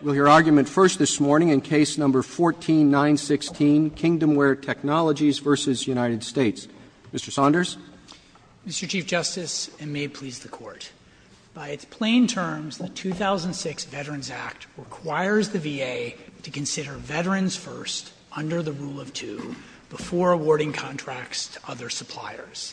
Will your argument first this morning in Case No. 14-916, Kingdomware Technologies v. United States? Mr. Saunders. Mr. Chief Justice, and may it please the Court, by its plain terms, the 2006 Veterans Act requires the VA to consider veterans first under the Rule of Two before awarding contracts to other suppliers.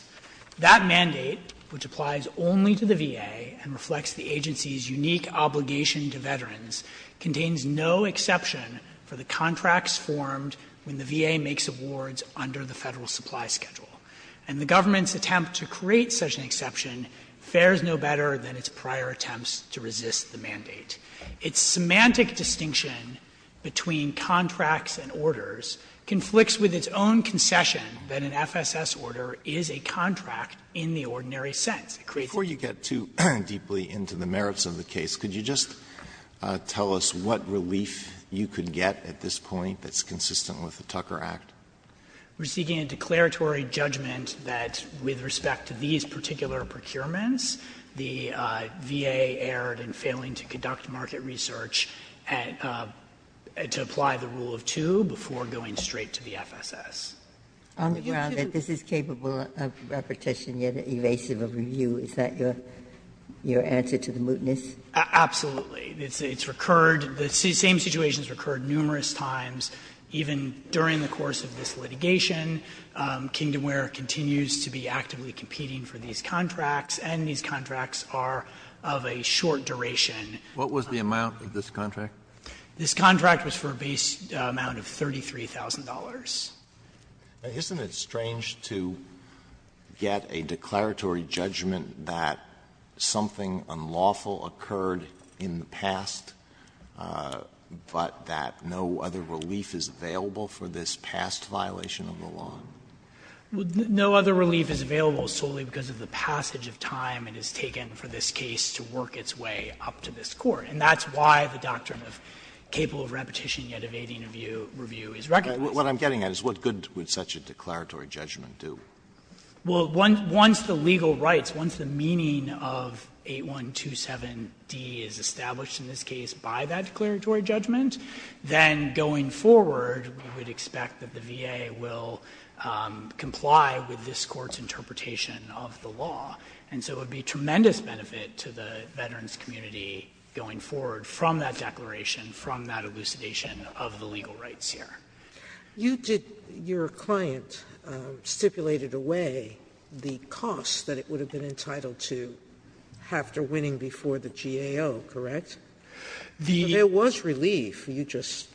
That mandate, which applies only to the VA and reflects the agency's unique obligation to veterans, contains no exception for the contracts formed when the VA makes awards under the Federal Supply Schedule. And the government's attempt to create such an exception fares no better than its prior attempts to resist the mandate. Its semantic distinction between contracts and orders conflicts with its own concession that an FSS order is a contract in the ordinary sense. Alito, before you get too deeply into the merits of the case, could you just tell us what relief you could get at this point that's consistent with the Tucker Act? We're seeking a declaratory judgment that with respect to these particular procurements, the VA erred in failing to conduct market research to apply the Rule of Two before going straight to the FSS. Ginsburg, on the ground that this is capable of repetition, yet erasable review, is that your answer to the mootness? Absolutely. It's recurred. The same situation has recurred numerous times, even during the course of this litigation. Kingdomware continues to be actively competing for these contracts, and these contracts are of a short duration. What was the amount of this contract? This contract was for a base amount of $33,000. Now, isn't it strange to get a declaratory judgment that something unlawful occurred in the past, but that no other relief is available for this past violation of the law? No other relief is available solely because of the passage of time it has taken for this case to work its way up to this Court. And that's why the doctrine of capable of repetition, yet evading review, is recognized. What I'm getting at is what good would such a declaratory judgment do? Well, once the legal rights, once the meaning of 8127d is established in this case by that declaratory judgment, then going forward we would expect that the VA will comply with this Court's interpretation of the law. And so it would be a tremendous benefit to the veterans' community going forward from that declaration, from that elucidation of the legal rights here. Sotomayor, you did your client stipulated away the cost that it would have been entitled to after winning before the GAO, correct? There was relief. You just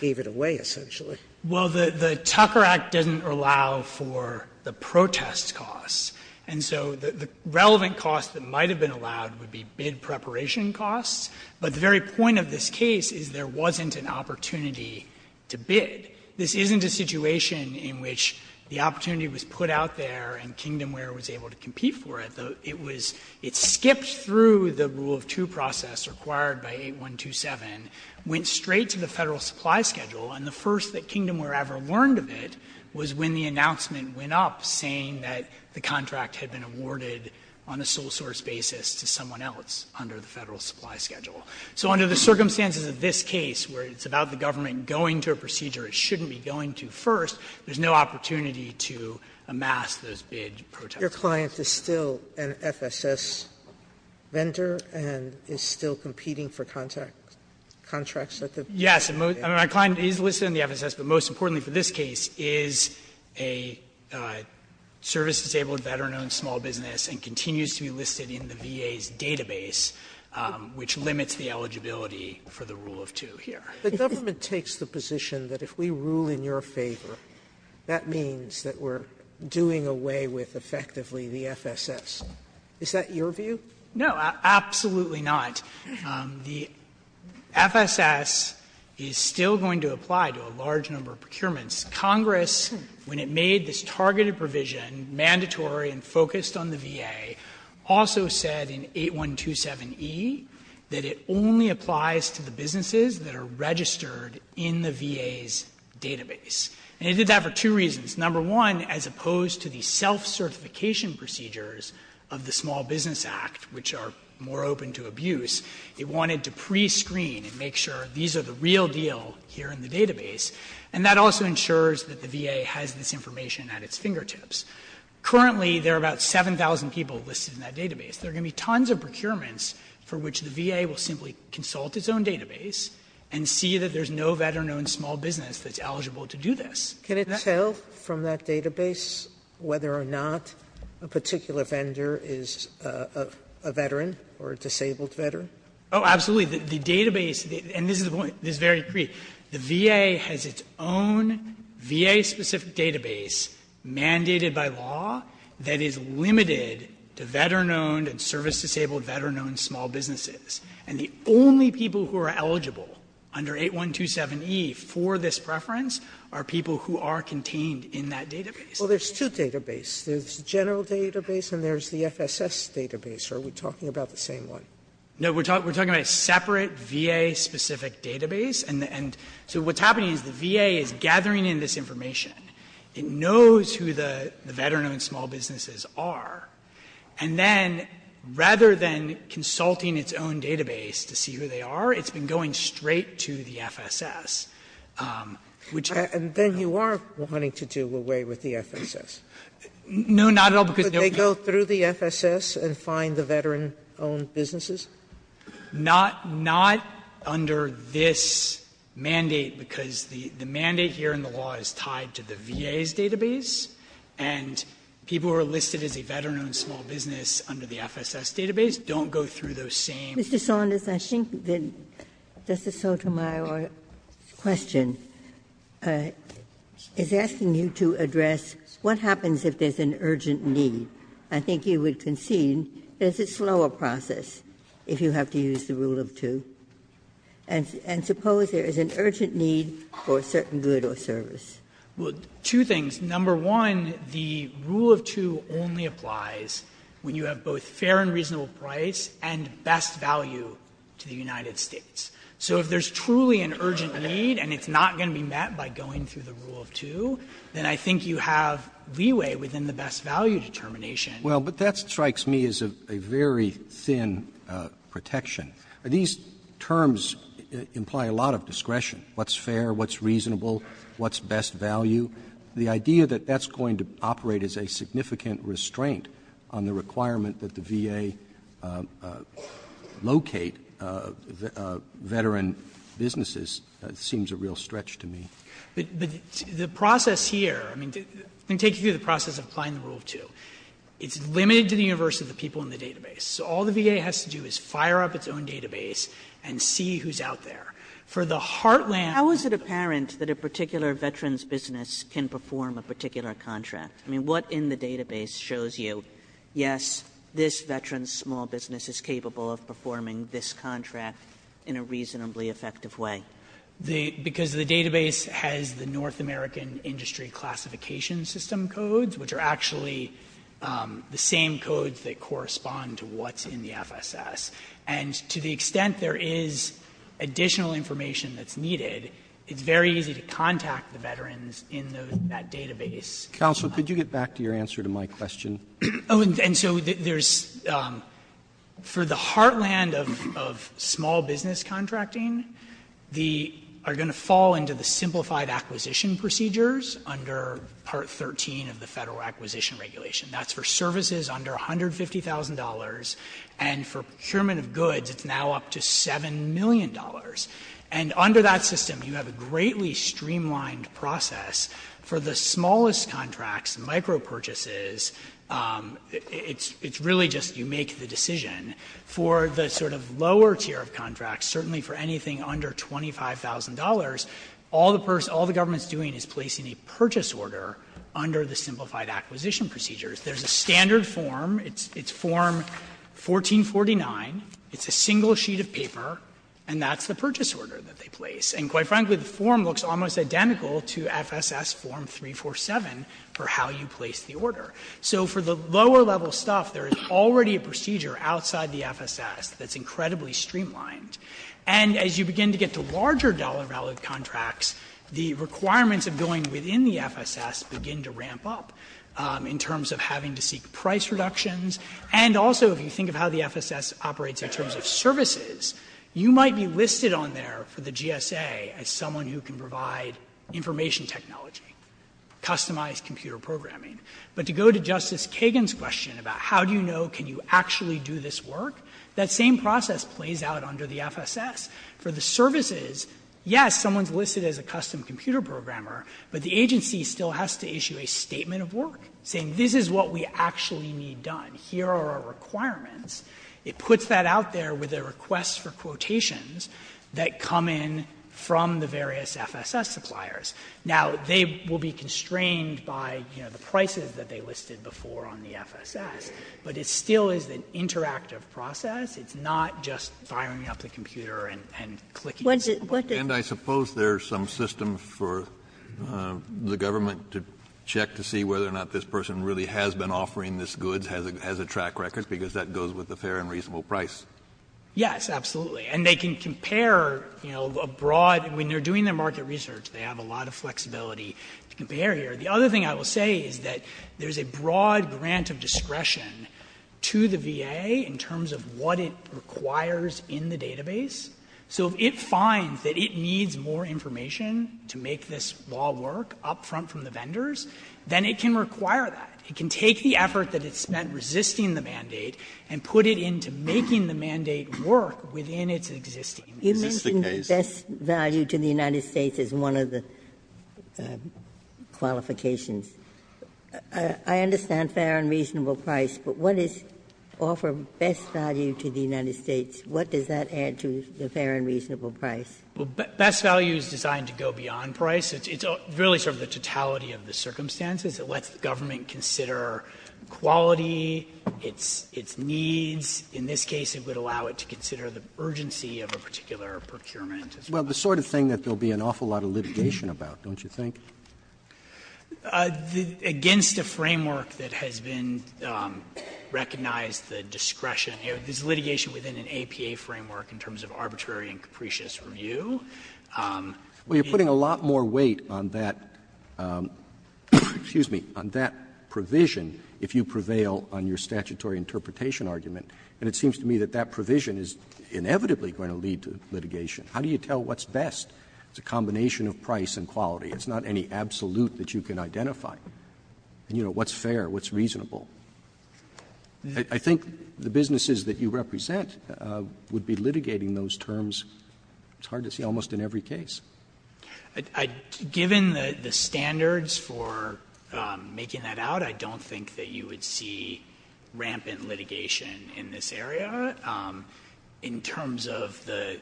gave it away, essentially. Well, the Tucker Act doesn't allow for the protest costs. And so the relevant cost that might have been allowed would be bid preparation costs, but the very point of this case is there wasn't an opportunity to bid. This isn't a situation in which the opportunity was put out there and Kingdomware was able to compete for it. It was — it skipped through the rule of two process required by 8127, went straight to the Federal supply schedule, and the first that Kingdomware ever learned of it was when the announcement went up saying that the contract had been awarded on a sole source basis to someone else under the Federal supply schedule. So under the circumstances of this case, where it's about the government going to a procedure it shouldn't be going to first, there's no opportunity to amass those bid protest costs. Your client is still an FSS vendor and is still competing for contracts at the FSS? Yes. I mean, my client is listed in the FSS, but most importantly for this case is a service-disabled veteran-owned small business and continues to be listed in the VA's database, which limits the eligibility for the rule of two here. The government takes the position that if we rule in your favor, that means that we're doing away with effectively the FSS. Is that your view? No, absolutely not. The FSS is still going to apply to a large number of procurements. Congress, when it made this targeted provision mandatory and focused on the VA, also said in 8127e that it only applies to the businesses that are registered in the VA's database. And it did that for two reasons. Number one, as opposed to the self-certification procedures of the Small Business Act, which are more open to abuse, it wanted to prescreen and make sure these are the real deal here in the database. And that also ensures that the VA has this information at its fingertips. Currently, there are about 7,000 people listed in that database. There are going to be tons of procurements for which the VA will simply consult its own database and see that there's no veteran-owned small business that's eligible to do this. Sotomayor, can it tell from that database whether or not a particular vendor is a veteran or a disabled veteran? Oh, absolutely. The database, and this is the point, this is very brief, the VA has its own VA-specific database mandated by law that is limited to veteran-owned and service-disabled veteran-owned small businesses. And the only people who are eligible under 8127e for this preference are people who are contained in that database. Well, there's two databases. There's the general database and there's the FSS database. Are we talking about the same one? No, we're talking about a separate VA-specific database. And so what's happening is the VA is gathering in this information. It knows who the veteran-owned small businesses are. And then, rather than consulting its own database to see who they are, it's been going straight to the FSS, which I don't know. Sotomayor, and then you are wanting to do away with the FSS. No, not at all, because they go through the FSS and find the veteran-owned small businesses? Not under this mandate, because the mandate here in the law is tied to the VA's database, and people who are listed as a veteran-owned small business under the FSS database don't go through those same. Ginsburg. Mr. Saunders, I think that Justice Sotomayor's question is asking you to address what happens if there's an urgent need. I think you would concede, is it a slower process if you have to use the rule of two? And suppose there is an urgent need for a certain good or service. Well, two things. Number one, the rule of two only applies when you have both fair and reasonable price and best value to the United States. So if there's truly an urgent need and it's not going to be met by going through the rule of two, then I think you have leeway within the best value determination. Well, but that strikes me as a very thin protection. These terms imply a lot of discretion, what's fair, what's reasonable, what's best value. The idea that that's going to operate as a significant restraint on the requirement that the VA locate veteran businesses seems a real stretch to me. But the process here, I mean, I'm going to take you through the process of applying the rule of two. It's limited to the universe of the people in the database. So all the VA has to do is fire up its own database and see who's out there. For the heartland of the VA. Kagan, how is it apparent that a particular veteran's business can perform a particular contract? I mean, what in the database shows you, yes, this veteran's small business is capable of performing this contract in a reasonably effective way? Because the database has the North American Industry Classification System codes, which are actually the same codes that correspond to what's in the FSS. And to the extent there is additional information that's needed, it's very easy to contact the veterans in that database. Counsel, could you get back to your answer to my question? Oh, and so there's, for the heartland of small business contracting, the FSS has a system where we are going to fall into the simplified acquisition procedures under Part 13 of the Federal Acquisition Regulation. That's for services under $150,000, and for procurement of goods, it's now up to $7 million. And under that system, you have a greatly streamlined process for the smallest contracts, micro-purchases, it's really just you make the decision. For the sort of lower tier of contracts, certainly for anything under $25,000, all the person, all the government is doing is placing a purchase order under the simplified acquisition procedures. There's a standard form. It's form 1449. It's a single sheet of paper, and that's the purchase order that they place. And quite frankly, the form looks almost identical to FSS form 347 for how you place the order. So for the lower level stuff, there is already a procedure outside the FSS that's incredibly streamlined. And as you begin to get to larger dollar-valued contracts, the requirements of going within the FSS begin to ramp up in terms of having to seek price reductions. And also, if you think of how the FSS operates in terms of services, you might be listed on there for the GSA as someone who can provide information technology, customized computer programming. But to go to Justice Kagan's question about how do you know can you actually do this work, that same process plays out under the FSS. For the services, yes, someone's listed as a custom computer programmer, but the agency still has to issue a statement of work, saying this is what we actually need done. Here are our requirements. It puts that out there with a request for quotations that come in from the various FSS suppliers. Now, they will be constrained by, you know, the prices that they listed before on the FSS, but it still is an interactive process. It's not just firing up the computer and clicking. And I suppose there's some system for the government to check to see whether or not this person really has been offering this goods, has a track record, because that goes with a fair and reasonable price. Yes, absolutely. And they can compare, you know, a broad – when they're doing their market research, they have a lot of flexibility to compare here. The other thing I will say is that there's a broad grant of discretion to the VA in terms of what it requires in the database. So if it finds that it needs more information to make this law work up front from the vendors, then it can require that. It can take the effort that it's spent resisting the mandate and put it into making the mandate work within its existing. Ginsburg, you mentioned best value to the United States as one of the qualifications. I understand fair and reasonable price, but what is offer best value to the United States, what does that add to the fair and reasonable price? Best value is designed to go beyond price. It's really sort of the totality of the circumstances. It lets the government consider quality, its needs. In this case, it would allow it to consider the urgency of a particular procurement. Well, the sort of thing that there will be an awful lot of litigation about, don't you think? Against a framework that has been recognized the discretion. There's litigation within an APA framework in terms of arbitrary and capricious review. Well, you're putting a lot more weight on that – excuse me – on that provision if you prevail on your statutory interpretation argument. And it seems to me that that provision is inevitably going to lead to litigation. How do you tell what's best? It's a combination of price and quality. It's not any absolute that you can identify. You know, what's fair, what's reasonable? I think the businesses that you represent would be litigating those terms. It's hard to see almost in every case. Given the standards for making that out, I don't think that you would see rampant litigation in this area in terms of the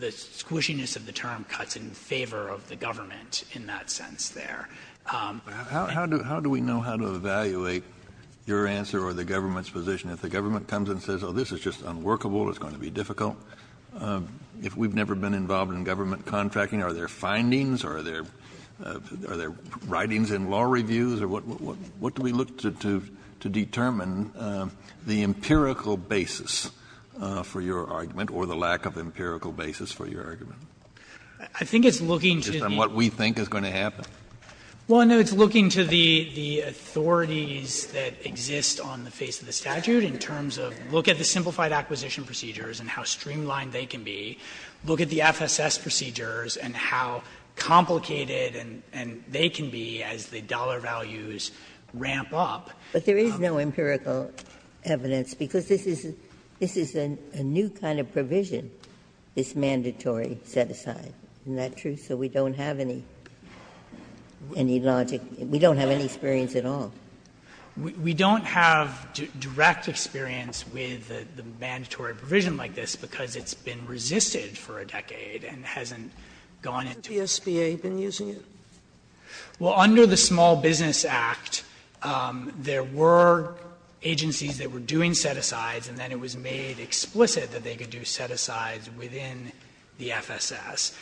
squishiness of the term cuts in favor of the government in that sense there. How do we know how to evaluate your answer or the government's position if the government comes and says, oh, this is just unworkable, it's going to be difficult? If we've never been involved in government contracting, are there findings? Are there writings in law reviews? What do we look to determine the empirical basis for your argument or the lack of empirical basis for your argument? I think it's looking to the— Just on what we think is going to happen. Well, no, it's looking to the authorities that exist on the face of the statute in terms of look at the simplified acquisition procedures and how streamlined they can be, look at the FSS procedures and how complicated they can be as the dollar values ramp up. But there is no empirical evidence, because this is a new kind of provision, this mandatory set-aside. Isn't that true? So we don't have any logic, we don't have any experience at all. We don't have direct experience with the mandatory provision like this because it's been resisted for a decade and hasn't gone into— Has the SBA been using it? Well, under the Small Business Act, there were agencies that were doing set-asides, and then it was made explicit that they could do set-asides within the FSS.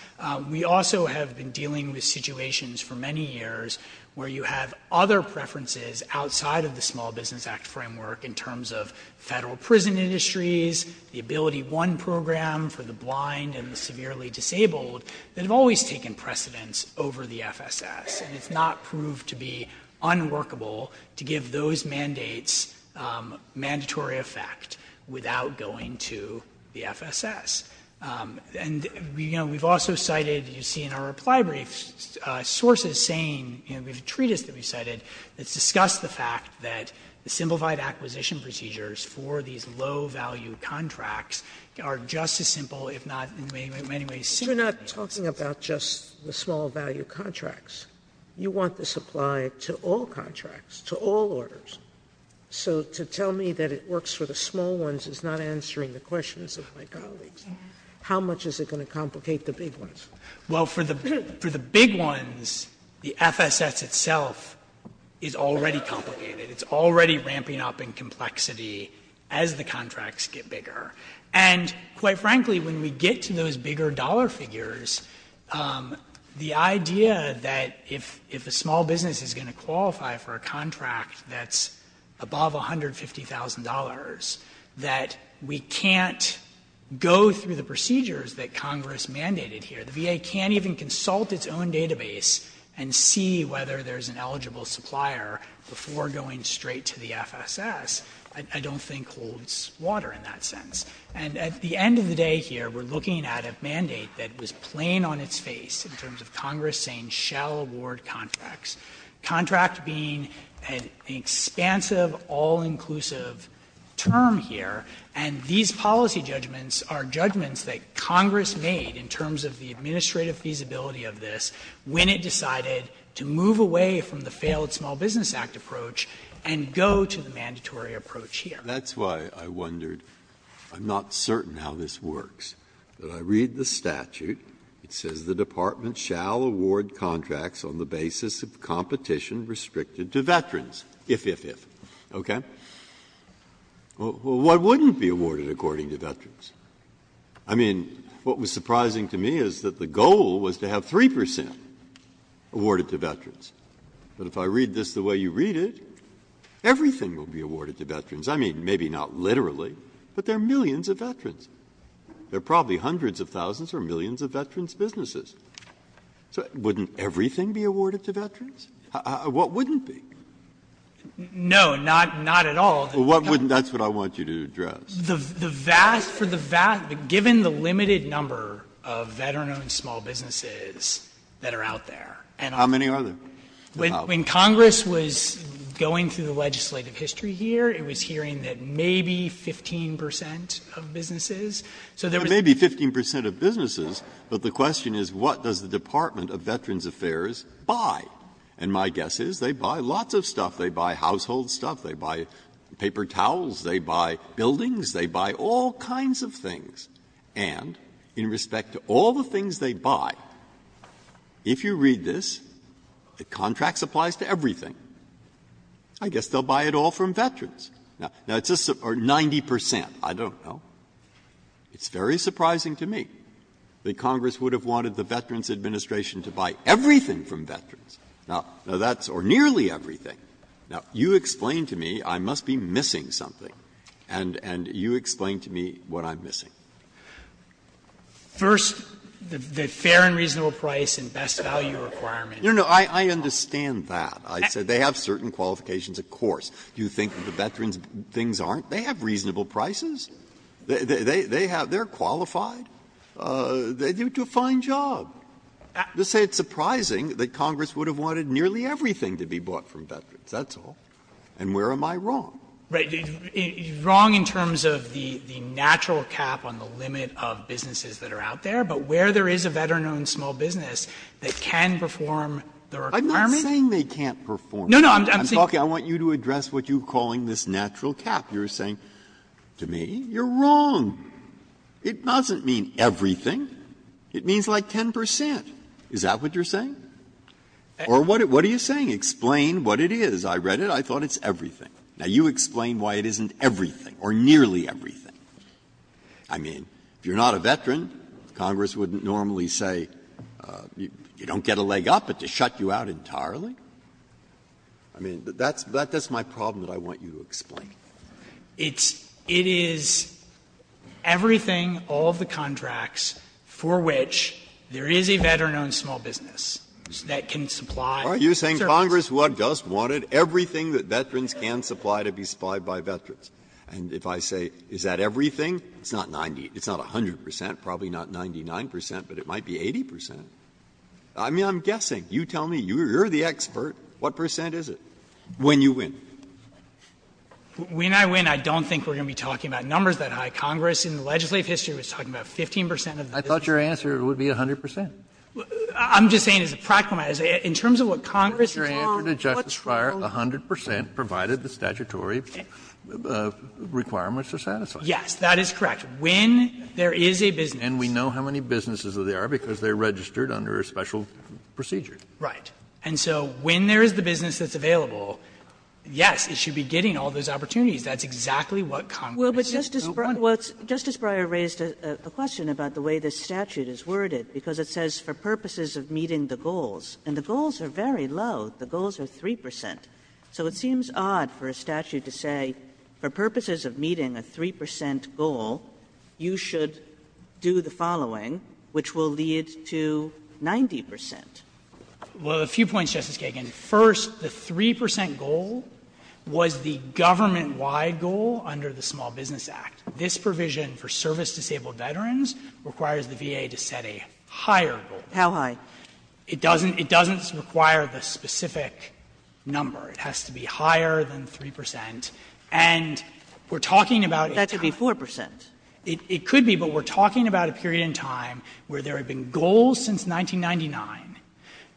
We also have been dealing with situations for many years where you have other preferences outside of the Small Business Act framework in terms of federal prison industries, the AbilityOne program for the blind and the severely disabled, that have always taken precedence over the FSS. And it's not proved to be unworkable to give those mandates mandatory effect without going to the FSS. And we've also cited, you see in our reply brief, sources saying, we have a treatise that we've cited that's discussed the fact that the simplified acquisition procedures for these low-value contracts are just as simple, if not in many ways, simple as the FSS. Sotomayor, you're not talking about just the small-value contracts. You want the supply to all contracts, to all orders. So to tell me that it works for the small ones is not answering the questions of my colleagues. How much is it going to complicate the big ones? Well, for the big ones, the FSS itself is already complicated. It's already ramping up in complexity as the contracts get bigger. And quite frankly, when we get to those bigger dollar figures, the idea that if a small business is going to qualify for a contract that's above $150,000, that we can't go through the procedures that Congress mandated here. The VA can't even consult its own database and see whether there's an eligible supplier before going straight to the FSS, I don't think holds water in that sense. And at the end of the day here, we're looking at a mandate that was plain on its face in terms of Congress saying, shall award contracts, contract being an expansive, all-inclusive term here, and these policy judgments are judgments that Congress made in terms of the administrative feasibility of this when it decided to move away from the failed Small Business Act approach and go to the mandatory approach here. Breyer. Breyer. That's why I wondered, I'm not certain how this works, but I read the statute. It says the Department shall award contracts on the basis of competition restricted to veterans, if, if, if. Okay? Well, what wouldn't be awarded according to veterans? I mean, what was surprising to me is that the goal was to have 3 percent awarded to veterans. But if I read this the way you read it, everything will be awarded to veterans. I mean, maybe not literally, but there are millions of veterans. There are probably hundreds of thousands or millions of veterans' businesses. So wouldn't everything be awarded to veterans? What wouldn't be? No, not, not at all. What wouldn't be? That's what I want you to address. The vast, for the vast, given the limited number of veteran-owned small businesses that are out there. How many are there? When Congress was going through the legislative history here, it was hearing that maybe 15 percent of businesses. So there was a 15 percent of businesses, but the question is what does the Department of Veterans Affairs buy? And my guess is they buy lots of stuff. They buy household stuff. They buy paper towels. They buy buildings. They buy all kinds of things. And in respect to all the things they buy, if you read this, the contract applies to everything. I guess they'll buy it all from veterans. Now, it's just 90 percent. I don't know. It's very surprising to me that Congress would have wanted the Veterans Administration to buy everything from veterans. Now, that's nearly everything. Now, you explain to me I must be missing something, and you explain to me what I'm missing. First, the fair and reasonable price and best value requirements. No, no. I understand that. I said they have certain qualifications, of course. You think that the veterans things aren't? They have reasonable prices. They have they're qualified. They do a fine job. Just say it's surprising that Congress would have wanted nearly everything to be bought from veterans. That's all. And where am I wrong? Right. Wrong in terms of the natural cap on the limit of businesses that are out there, but where there is a veteran-owned small business that can perform the requirement. I'm not saying they can't perform. No, no. I'm saying. I want you to address what you're calling this natural cap. You're saying, to me, you're wrong. It doesn't mean everything. It means like 10 percent. Is that what you're saying? Or what are you saying? Explain what it is. I read it. I thought it's everything. Now, you explain why it isn't everything or nearly everything. I mean, if you're not a veteran, Congress wouldn't normally say you don't get a leg up, but to shut you out entirely. I mean, that's my problem that I want you to explain. It's — it is everything, all of the contracts, for which there is a veteran-owned small business that can supply service. Breyer, are you saying Congress just wanted everything that veterans can supply to be supplied by veterans? And if I say, is that everything, it's not 90, it's not 100 percent, probably not 99 percent, but it might be 80 percent. I mean, I'm guessing. You tell me. You're the expert. What percent is it when you win? When I win, I don't think we're going to be talking about numbers that high. Congress in legislative history was talking about 15 percent of the business. Kennedy, I thought your answer would be 100 percent. I'm just saying as a practical matter, in terms of what Congress is on, what's wrong? Your answer to Justice Breyer, 100 percent, provided the statutory requirements are satisfied. Yes, that is correct. When there is a business. And we know how many businesses there are because they're registered under a special procedure. Right. And so when there is the business that's available, yes, it should be getting all those opportunities. That's exactly what Congress just don't want. Well, but Justice Breyer raised a question about the way this statute is worded, because it says, for purposes of meeting the goals, and the goals are very low, the goals are 3 percent. So it seems odd for a statute to say, for purposes of meeting a 3 percent goal, you should do the following, which will lead to 90 percent. Well, a few points, Justice Kagan. First, the 3 percent goal was the government-wide goal under the Small Business Act. This provision for service-disabled veterans requires the VA to set a higher goal. How high? It doesn't require the specific number. It has to be higher than 3 percent. And we're talking about a time. That could be 4 percent. It could be, but we're talking about a period in time where there have been goals since 1999,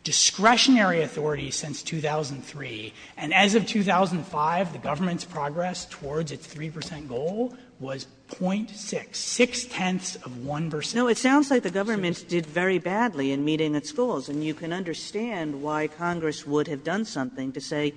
discretionary authority since 2003, and as of 2005, the government's progress towards its 3 percent goal was .6, six-tenths of 1 percent. No, it sounds like the government did very badly in meeting its goals, and you can understand why Congress would have done something to say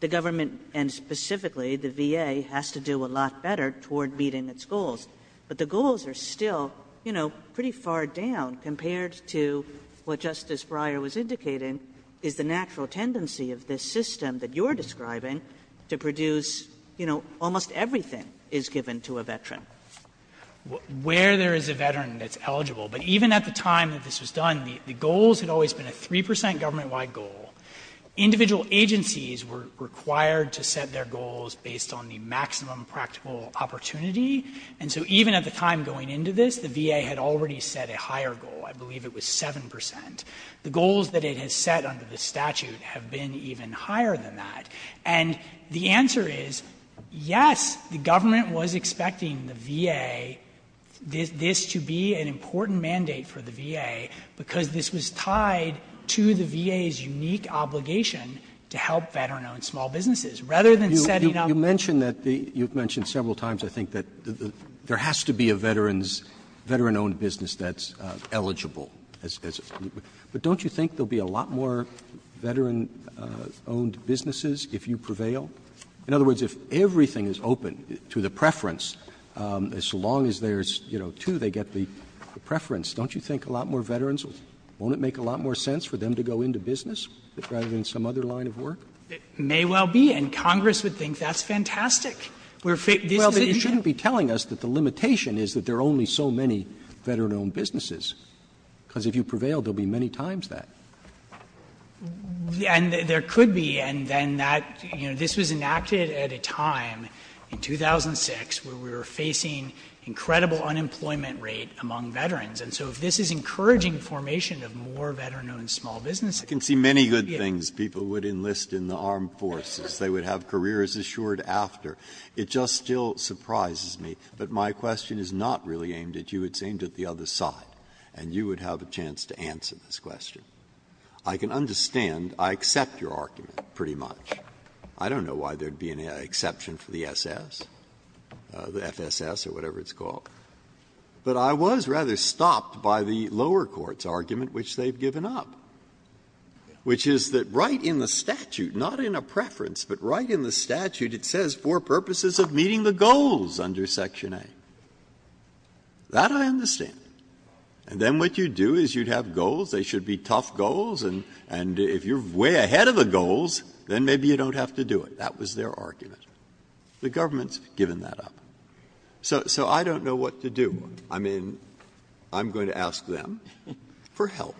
the government, and specifically the VA, has to do a lot better toward meeting its goals. But the goals are still, you know, pretty far down compared to what Justice Breyer was indicating is the natural tendency of this system that you're describing to produce, you know, almost everything is given to a veteran. Where there is a veteran that's eligible. But even at the time that this was done, the goals had always been a 3 percent government-wide goal. Individual agencies were required to set their goals based on the maximum practical opportunity, and so even at the time going into this, the VA had already set a higher goal. I believe it was 7 percent. The goals that it has set under the statute have been even higher than that. And the answer is, yes, the government was expecting the VA, this to be an important mandate for the VA, because this was tied to the VA's unique obligation to help veteran-owned small businesses, rather than setting up. Roberts You mentioned that the you've mentioned several times, I think, that there has to be a veteran-owned business that's eligible. But don't you think there will be a lot more veteran-owned businesses if you prevail? In other words, if everything is open to the preference, as long as there's, you know, two, they get the preference, don't you think a lot more veterans, won't it make a lot more sense for them to go into business rather than some other line of work? It may well be. And Congress would think that's fantastic. This is a issue. Roberts Well, then you shouldn't be telling us that the limitation is that there are only so many veteran-owned businesses. Because if you prevail, there will be many times that. And there could be. And then that, you know, this was enacted at a time in 2006 where we were facing incredible unemployment rate among veterans. And so if this is encouraging formation of more veteran-owned small businesses I can see many good things. People would enlist in the armed forces. They would have careers assured after. It just still surprises me. But my question is not really aimed at you. It's aimed at the other side. And you would have a chance to answer this question. I can understand. I accept your argument, pretty much. I don't know why there would be an exception for the SS, the FSS or whatever it's called. But I was rather stopped by the lower court's argument, which they've given up. Which is that right in the statute, not in a preference, but right in the statute, it says for purposes of meeting the goals under Section A. That I understand. And then what you do is you'd have goals, they should be tough goals, and if you're way ahead of the goals, then maybe you don't have to do it. That was their argument. The government's given that up. So I don't know what to do. I mean, I'm going to ask them for help.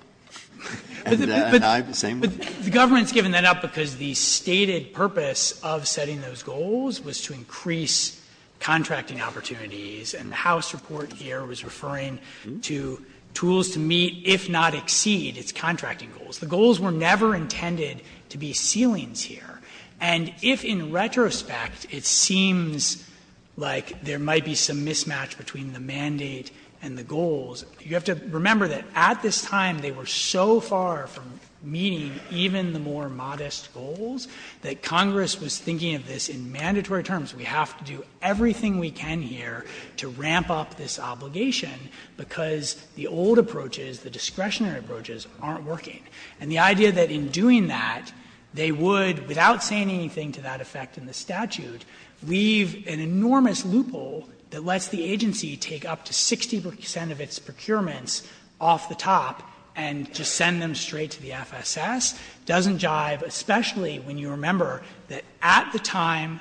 And I have the same one. But the government's given that up because the stated purpose of setting those goals was to increase contracting opportunities. And the House report here was referring to tools to meet, if not exceed, its contracting goals. The goals were never intended to be ceilings here. And if in retrospect it seems like there might be some mismatch between the mandate and the goals, you have to remember that at this time they were so far from meeting even the more modest goals that Congress was thinking of this in mandatory terms. We have to do everything we can here to ramp up this obligation because the old approaches, the discretionary approaches, aren't working. And the idea that in doing that, they would, without saying anything to that effect in the statute, leave an enormous loophole that lets the agency take up to 60 percent of its procurements off the top and just send them straight to the FSS doesn't jive, especially when you remember that at the time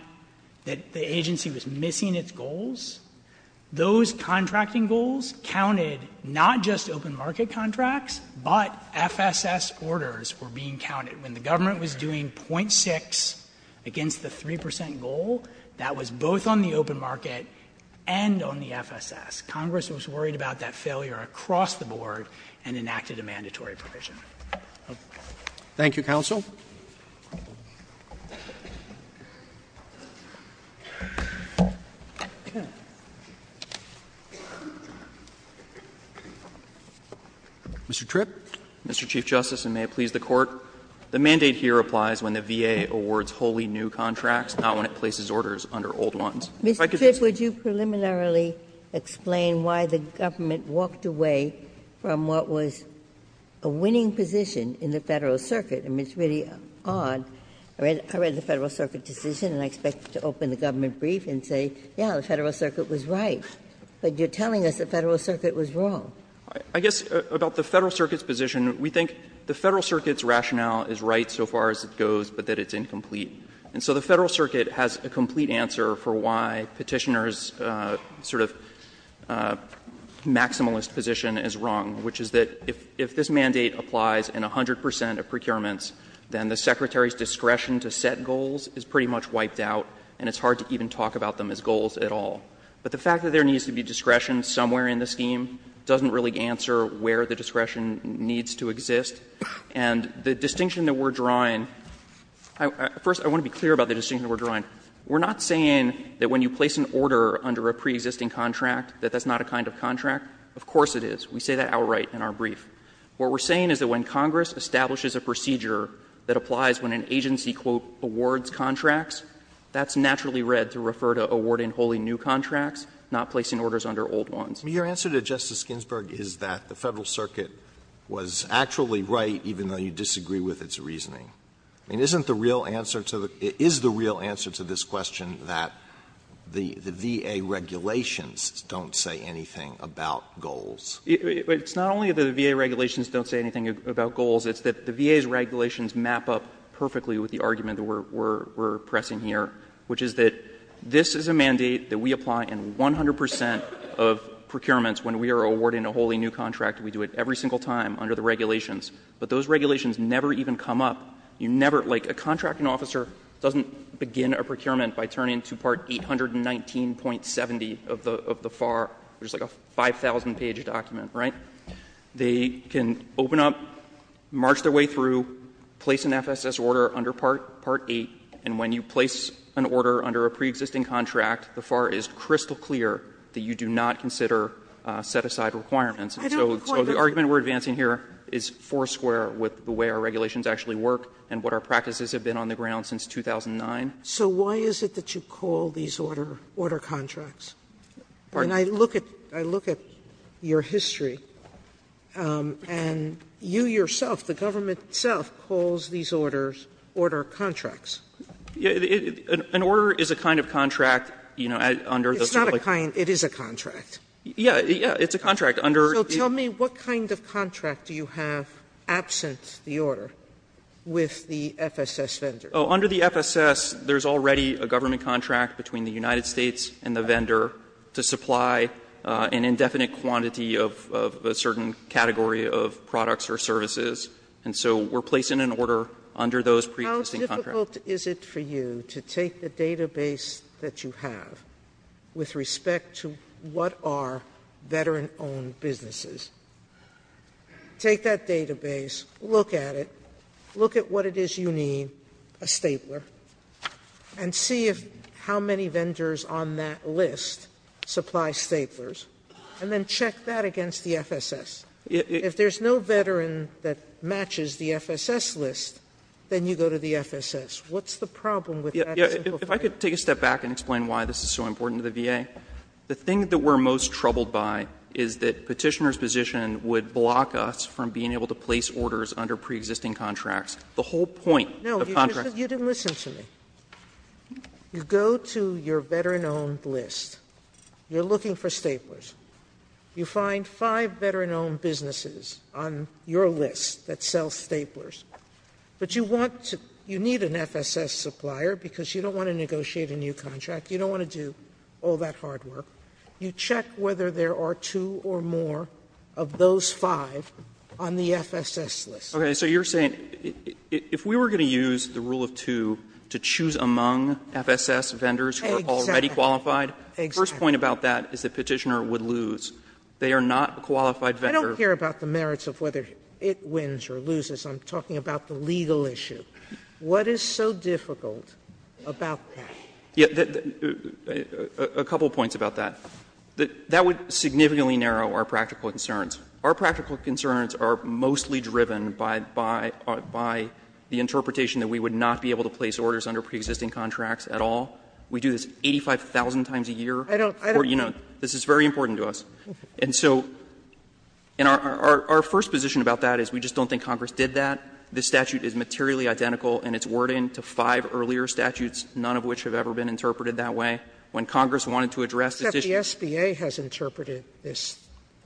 that the agency was missing its goals, those contracting goals counted not just open market contracts, but FSS orders were being counted. When the government was doing .6 against the 3 percent goal, that was both on the open market and on the FSS. Congress was worried about that failure across the board and enacted a mandatory provision. Roberts. Thank you, counsel. Mr. Tripp. Mr. Chief Justice, and may it please the Court. The mandate here applies when the VA awards wholly new contracts, not when it places orders under old ones. If I could just say one thing. Ginsburg. Mr. Tripp, would you preliminarily explain why the government walked away from what was a winning position in the Federal Circuit? I mean, it's really odd. I read the Federal Circuit decision and I expect to open the government brief and say, yes, the Federal Circuit was right, but you're telling us the Federal Circuit was wrong. I guess about the Federal Circuit's position, we think the Federal Circuit's rationale is right so far as it goes, but that it's incomplete. And so the Federal Circuit has a complete answer for why Petitioner's sort of maximalist position is wrong, which is that if this mandate applies in 100 percent of procurements, then the Secretary's discretion to set goals is pretty much wiped out and it's hard to even talk about them as goals at all. But the fact that there needs to be discretion somewhere in the scheme doesn't really answer where the discretion needs to exist. And the distinction that we're drawing, first, I want to be clear about the distinction that we're drawing. We're not saying that when you place an order under a preexisting contract that that's not a kind of contract. Of course it is. We say that outright in our brief. What we're saying is that when Congress establishes a procedure that applies when an agency, quote, awards contracts, that's naturally read to refer to awarding totally new contracts, not placing orders under old ones. Alito, your answer to Justice Ginsburg is that the Federal Circuit was actually right, even though you disagree with its reasoning. I mean, isn't the real answer to the real answer to this question that the VA regulations don't say anything about goals? It's not only that the VA regulations don't say anything about goals. It's that the VA's regulations map up perfectly with the argument that we're pressing here, which is that this is a mandate that we apply in 100 percent of procurements when we are awarding a wholly new contract. We do it every single time under the regulations. But those regulations never even come up. You never — like, a contracting officer doesn't begin a procurement by turning to Part 819.70 of the FAR, which is like a 5,000-page document, right? They can open up, march their way through, place an FSS order under Part 8, and when you place an order under a preexisting contract, the FAR is crystal clear that you do not consider set-aside requirements. So the argument we're advancing here is foursquare with the way our regulations actually work and what our practices have been on the ground since 2009. Sotomayor, so why is it that you call these order contracts? And I look at your history, and you yourself, the government itself, calls these order contracts. Goldstein, an order is a kind of contract, you know, under the sort of like the Sotomayor, it's not a kind, it is a contract. Yeah, yeah, it's a contract under the Federal Reserve Act. Sotomayor, so tell me, what kind of contract do you have absent the order with the FSS vendor? Oh, under the FSS, there's already a government contract between the United States and the vendor to supply an indefinite quantity of a certain category of products or services. And so we're placing an order under those preexisting contracts. How difficult is it for you to take the database that you have with respect to what are veteran-owned businesses, take that database, look at it, look at what it is you need, a stapler, and see if how many vendors on that list supply staplers, and then check that against the FSS. If there's no veteran that matches the FSS list, then you go to the FSS. What's the problem with that? Yeah, if I could take a step back and explain why this is so important to the VA. The thing that we're most troubled by is that Petitioner's position would block us from being able to place orders under preexisting contracts. The whole point of contracts. No, you didn't listen to me. You go to your veteran-owned list. You're looking for staplers. You find five veteran-owned businesses on your list that sell staplers. But you want to – you need an FSS supplier because you don't want to negotiate a new contract. You don't want to do all that hard work. You check whether there are two or more of those five on the FSS list. Okay. So you're saying if we were going to use the rule of two to choose among FSS vendors who are already qualified. Exactly. The first point about that is that Petitioner would lose. They are not qualified vendors. I don't care about the merits of whether it wins or loses. I'm talking about the legal issue. What is so difficult about that? Yeah, a couple points about that. That would significantly narrow our practical concerns. Our practical concerns are mostly driven by the interpretation that we would not be able to place orders under preexisting contracts at all. We do this 85,000 times a year. I don't – I don't. This is very important to us. And so our first position about that is we just don't think Congress did that. This statute is materially identical in its wording to five earlier statutes, none of which have ever been interpreted that way. When Congress wanted to address the issue – Except the SBA has interpreted this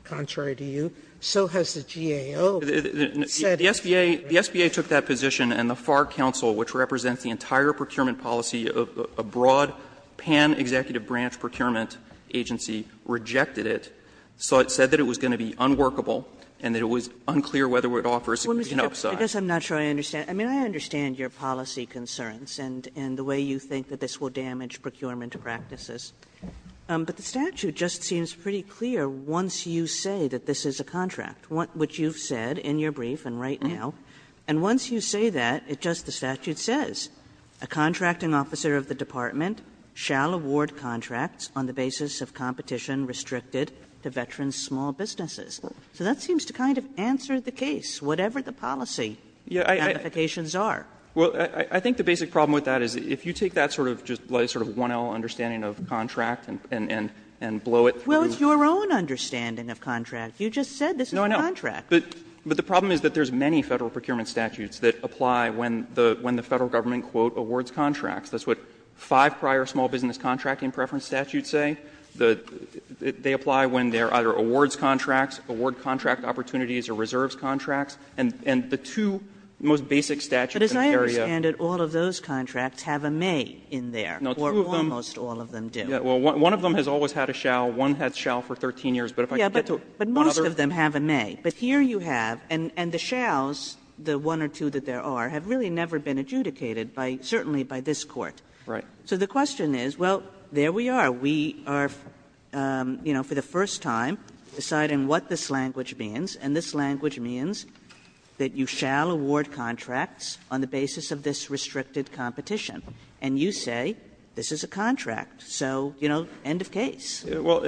contrary to you. So has the GAO. The SBA took that position, and the FARC counsel, which represents the entire procurement policy of a broad pan-executive branch procurement agency, rejected it, said that it was going to be unworkable and that it was unclear whether it would offer a significant upside. Kagan. Kagan. Kagan. I mean, I understand your policy concerns and the way you think that this will damage procurement practices, but the statute just seems pretty clear once you say that this is a contract, which you've said in your brief and right now. And once you say that, it just – the statute says a contracting officer of the department shall award contracts on the basis of competition restricted to veterans' small businesses. So that seems to kind of answer the case, whatever the policy ramifications are. Well, I think the basic problem with that is if you take that sort of just like sort of 1L understanding of contract and blow it through. Well, it's your own understanding of contract. You just said this is a contract. But the problem is that there's many Federal procurement statutes that apply when the Federal Government, quote, awards contracts. That's what five prior small business contracting preference statutes say. They apply when there are either awards contracts, award contract opportunities or reserves contracts. And the two most basic statutes in the area. But as I understand it, all of those contracts have a may in there. No, two of them. Or almost all of them do. Well, one of them has always had a shall. One has shall for 13 years. But if I get to one other. But most of them have a may. But here you have, and the shalls, the one or two that there are, have really never been adjudicated by, certainly by this Court. Right. So the question is, well, there we are. We are, you know, for the first time deciding what this language means. And this language means that you shall award contracts on the basis of this restricted competition. And you say this is a contract. So, you know, end of case. Well,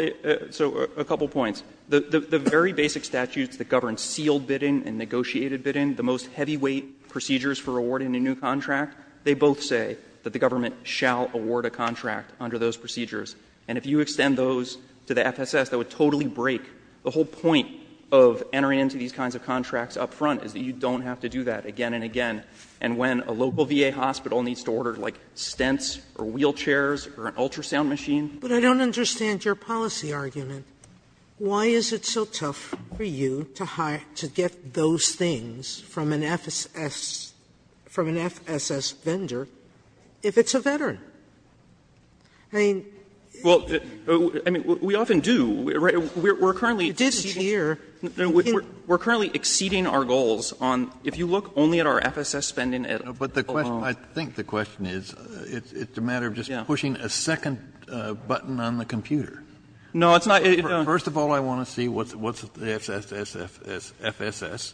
so a couple of points. The very basic statutes that govern sealed bidding and negotiated bidding, the most heavyweight procedures for awarding a new contract, they both say that the government shall award a contract under those procedures. And if you extend those to the FSS, that would totally break the whole point of entering into these kinds of contracts up front, is that you don't have to do that again and again. And when a local VA hospital needs to order, like, stents or wheelchairs or an ultrasound machine. Sotomayor, but I don't understand your policy argument. Why is it so tough for you to get those things from an FSS vendor if it's a veteran? I mean, we often do, right? We are currently exceeding our goals on, if you look only at our FSS spending at OVO. Kennedy, I think the question is, it's a matter of just pushing a second button on the computer. First of all, I want to see what's the FSS,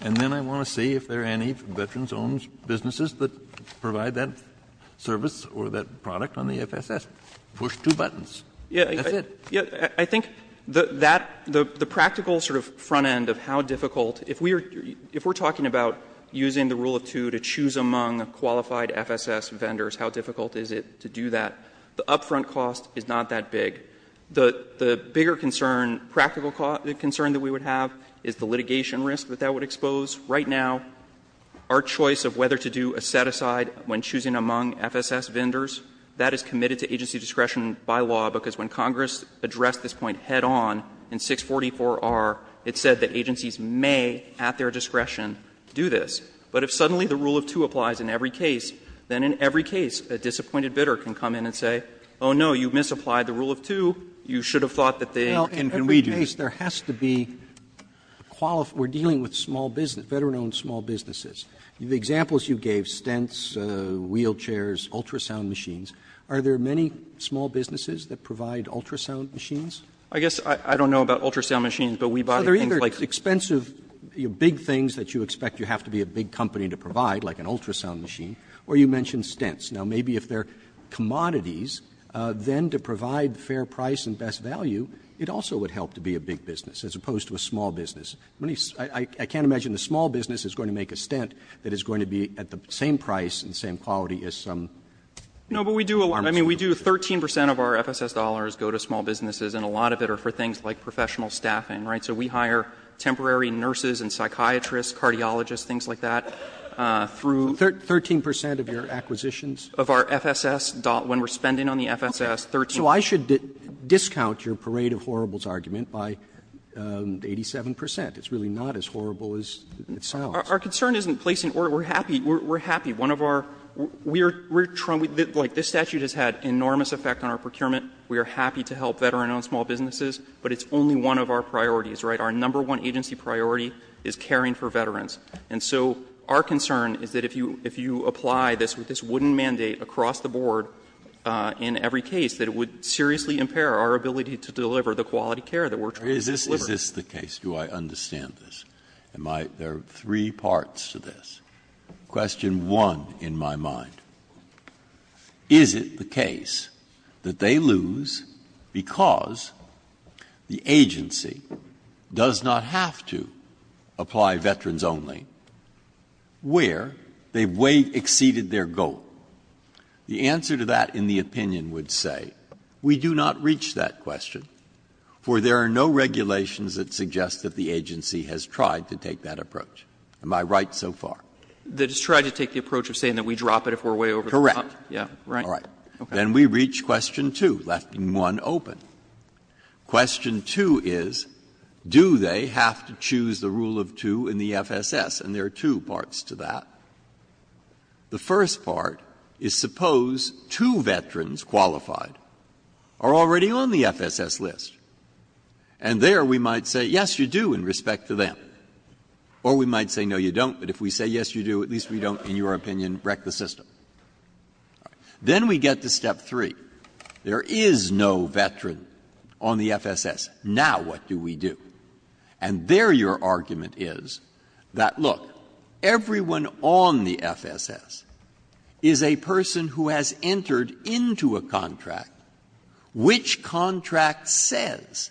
and then I want to see if there are any veterans-owned businesses that provide that service or that product on the FSS. Push two buttons. That's it. I think that the practical sort of front end of how difficult, if we are talking about using the rule of two to choose among qualified FSS vendors, how difficult is it to do that, the upfront cost is not that big. The bigger concern, practical concern that we would have is the litigation risk that that would expose. Right now, our choice of whether to do a set-aside when choosing among FSS vendors, that is committed to agency discretion by law, because when Congress addressed this point head on in 644R, it said that agencies may, at their discretion, do this. But if suddenly the rule of two applies in every case, then in every case a disappointed bidder can come in and say, oh, no, you misapplied the rule of two, you should have thought that they were inconvenienced. Roberts. Roberts. We are dealing with small business, veteran-owned small businesses. The examples you gave, stents, wheelchairs, ultrasound machines, are there many small businesses that provide ultrasound machines? I guess I don't know about ultrasound machines, but we buy things like that. Roberts. Now, are those expensive, big things that you expect you have to be a big company to provide, like an ultrasound machine, or you mentioned stents. Now, maybe if they are commodities, then to provide fair price and best value, it also would help to be a big business as opposed to a small business. I can't imagine a small business is going to make a stent that is going to be at the same price and same quality as some arms company. No, but we do a lot. I mean, we do 13 percent of our FSS dollars go to small businesses, and a lot of it are for things like professional staffing, right? So we hire temporary nurses and psychiatrists, cardiologists, things like that. Through. Roberts. 13 percent of your acquisitions? Of our FSS, when we are spending on the FSS, 13 percent. So I should discount your parade of horribles argument by 87 percent. It's really not as horrible as it sounds. Our concern isn't placing order. We are happy. We are happy. One of our, we are trying, like this statute has had enormous effect on our procurement. We are happy to help veteran-owned small businesses, but it's only one of our priorities. Right? Our number one agency priority is caring for veterans. And so our concern is that if you, if you apply this with this wooden mandate across the board in every case, that it would seriously impair our ability to deliver the quality care that we are trying to deliver. Is this the case? Do I understand this? Am I, there are three parts to this. Question one, in my mind. Is it the case that they lose because the agency does not have to apply veterans only where they have way exceeded their goal? The answer to that in the opinion would say we do not reach that question, for there are no regulations that suggest that the agency has tried to take that approach. Am I right so far? That it's tried to take the approach of saying that we drop it if we are way over the top? Correct. Yeah. Right? All right. Then we reach question two, left one open. Question two is, do they have to choose the rule of two in the FSS? And there are two parts to that. The first part is suppose two veterans qualified are already on the FSS list. And there we might say, yes, you do, in respect to them. Or we might say, no, you don't, but if we say, yes, you do, at least we don't, in your opinion, wreck the system. Then we get to step three. There is no veteran on the FSS. Now what do we do? And there your argument is that, look, everyone on the FSS is a person who has entered into a contract which contract says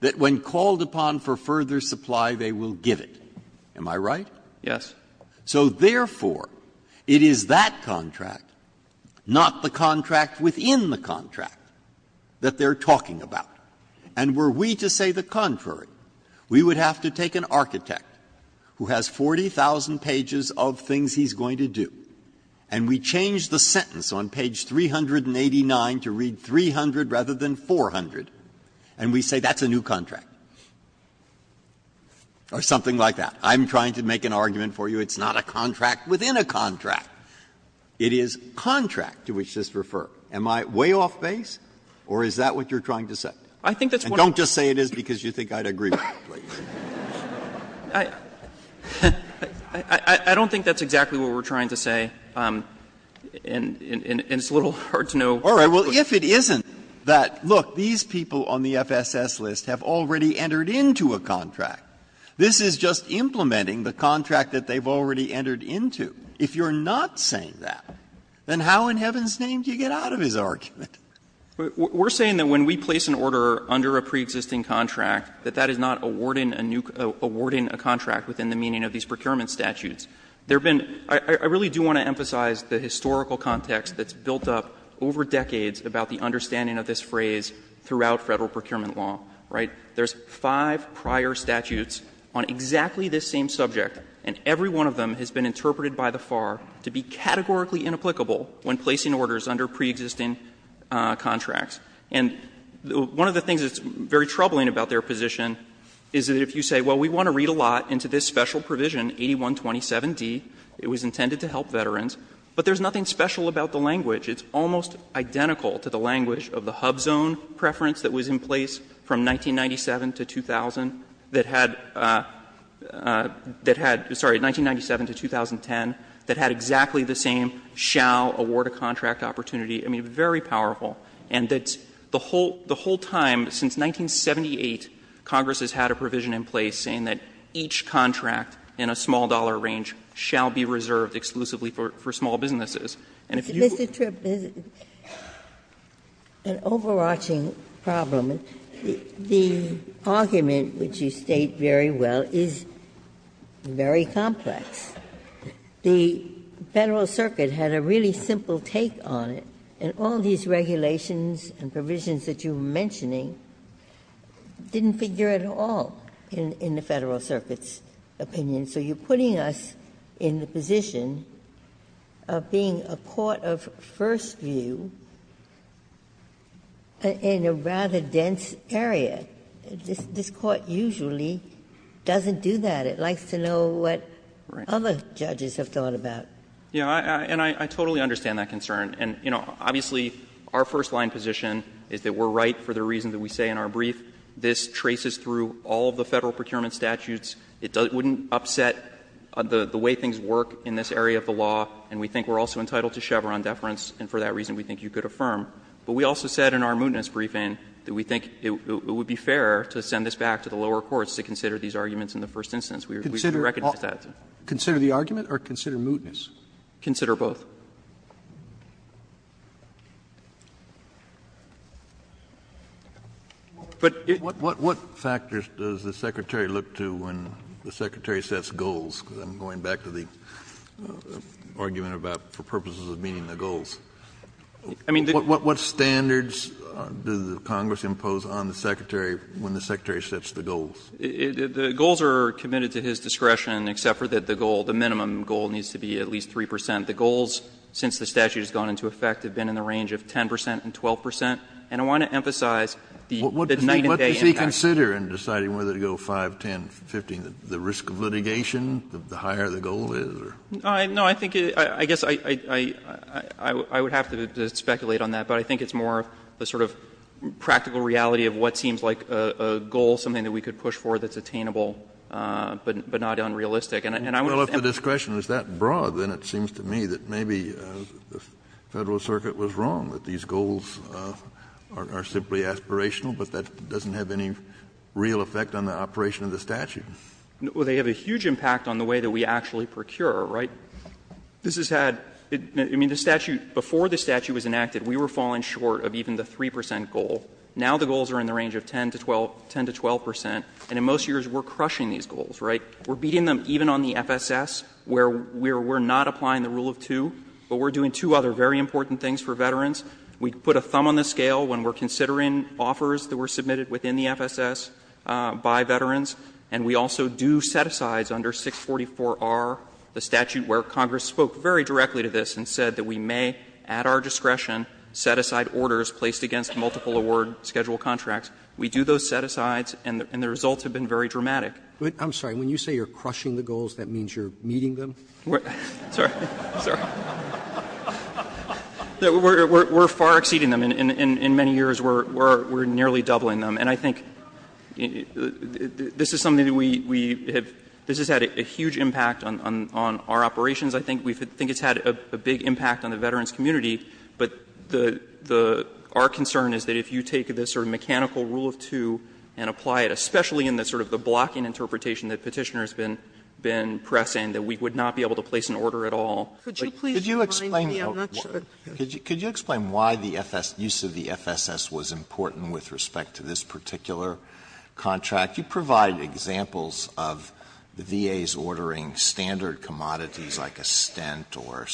that when called upon for further supply, they will give it. Am I right? Yes. So therefore, it is that contract, not the contract within the contract, that they are talking about. And were we to say the contrary, we would have to take an architect who has 40,000 pages of things he's going to do, and we change the sentence on page 389 to read 300 rather than 400, and we say that's a new contract. Or something like that. I'm trying to make an argument for you. It's not a contract within a contract. It is contract to which this refers. Am I way off base, or is that what you're trying to say? And don't just say it is because you think I'd agree with you, please. I don't think that's exactly what we're trying to say, and it's a little hard to know. Breyer, all right, well, if it isn't that, look, these people on the FSS list have already entered into a contract. This is just implementing the contract that they've already entered into. If you're not saying that, then how in heaven's name do you get out of his argument? We're saying that when we place an order under a preexisting contract, that that is not awarding a new co ---- awarding a contract within the meaning of these procurement statutes. There have been ---- I really do want to emphasize the historical context that's been used for decades about the understanding of this phrase throughout Federal procurement law, right? There's five prior statutes on exactly this same subject, and every one of them has been interpreted by the FAR to be categorically inapplicable when placing orders under preexisting contracts. And one of the things that's very troubling about their position is that if you say, well, we want to read a lot into this special provision, 8127d, it was intended to help veterans, but there's nothing special about the language. It's almost identical to the language of the HUBZone preference that was in place from 1997 to 2000 that had ---- that had ---- sorry, 1997 to 2010, that had exactly the same shall award a contract opportunity. I mean, very powerful. And that the whole time, since 1978, Congress has had a provision in place saying that each contract in a small-dollar range shall be reserved exclusively And so there's an overarching problem. The argument, which you state very well, is very complex. The Federal Circuit had a really simple take on it, and all these regulations and provisions that you're mentioning didn't figure at all in the Federal Circuit's opinion. And so you're putting us in the position of being a court of first view in a rather dense area. This Court usually doesn't do that. It likes to know what other judges have thought about. Yeah. And I totally understand that concern. And, you know, obviously, our first-line position is that we're right for the reason that we say in our brief this traces through all of the Federal procurement statutes. It wouldn't upset the way things work in this area of the law, and we think we're also entitled to Chevron deference, and for that reason, we think you could affirm. But we also said in our mootness briefing that we think it would be fair to send this back to the lower courts to consider these arguments in the first instance. We recognize that. Consider the argument or consider mootness? Consider both. But it's And the goals are committed to his discretion, except for that the goal, the minimum goal, needs to be at least 3 percent. The goals, since the statute has gone into effect, have been in the range of 10 percent and 12 percent. And I want to emphasize the night and day interest. And I don't think it's a matter of the statute deciding whether to go 5, 10, 15, the risk of litigation, the higher the goal is. No, I think, I guess I would have to speculate on that, but I think it's more the sort of practical reality of what seems like a goal, something that we could push for that's attainable but not unrealistic. Well, if the discretion is that broad, then it seems to me that maybe the Federal Circuit was wrong, that these goals are simply aspirational, but that doesn't have any real effect on the operation of the statute. Well, they have a huge impact on the way that we actually procure, right? This has had, I mean, the statute, before the statute was enacted, we were falling short of even the 3 percent goal. Now the goals are in the range of 10 to 12 percent, and in most years we're crushing these goals, right? We're beating them even on the FSS, where we're not applying the rule of 2, but we're doing two other very important things for veterans. We put a thumb on the scale when we're considering offers that were submitted within the FSS by veterans, and we also do set-asides under 644R, the statute where Congress spoke very directly to this and said that we may, at our discretion, set aside orders placed against multiple award schedule contracts. We do those set-asides, and the results have been very dramatic. Roberts. Roberts. I'm sorry. When you say you're crushing the goals, that means you're meeting them? Sorry. We're far exceeding them. In many years, we're nearly doubling them. And I think this is something that we have — this has had a huge impact on our operations. I think it's had a big impact on the veterans' community, but our concern is that if you take this sort of mechanical rule of 2 and apply it, especially in the sort of the blocking interpretation that Petitioner has been pressing, that we would not be able to place an order at all. Could you explain why the FSS — use of the FSS was important with respect to this particular contract? You provide examples of the VA's ordering standard commodities like a stent or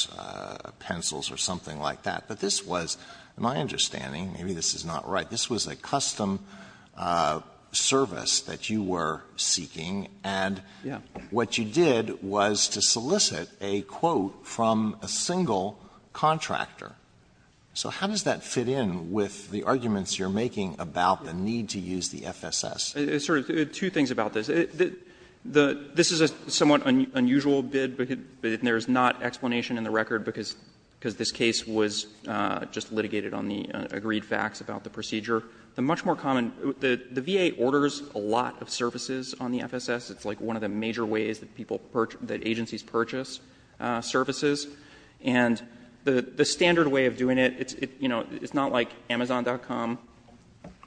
pencils or something like that, but this was, in my understanding, maybe this is not right, this was a custom service that you were seeking, and what you did was to solicit a quote from a single contractor. So how does that fit in with the arguments you're making about the need to use the FSS? It's sort of two things about this. This is a somewhat unusual bid, but there's not explanation in the record because this case was just litigated on the agreed facts about the procedure. The much more common — the VA orders a lot of services on the FSS. It's like one of the major ways that people — that agencies purchase services. And the standard way of doing it, it's not like Amazon.com,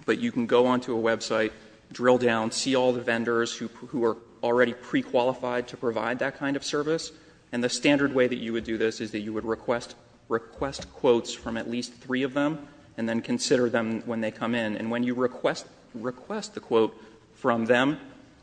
but you can go onto a website, drill down, see all the vendors who are already prequalified to provide that kind of service. And the standard way that you would do this is that you would request quotes from at least three of them, and then consider them when they come in. And when you request the quote from them,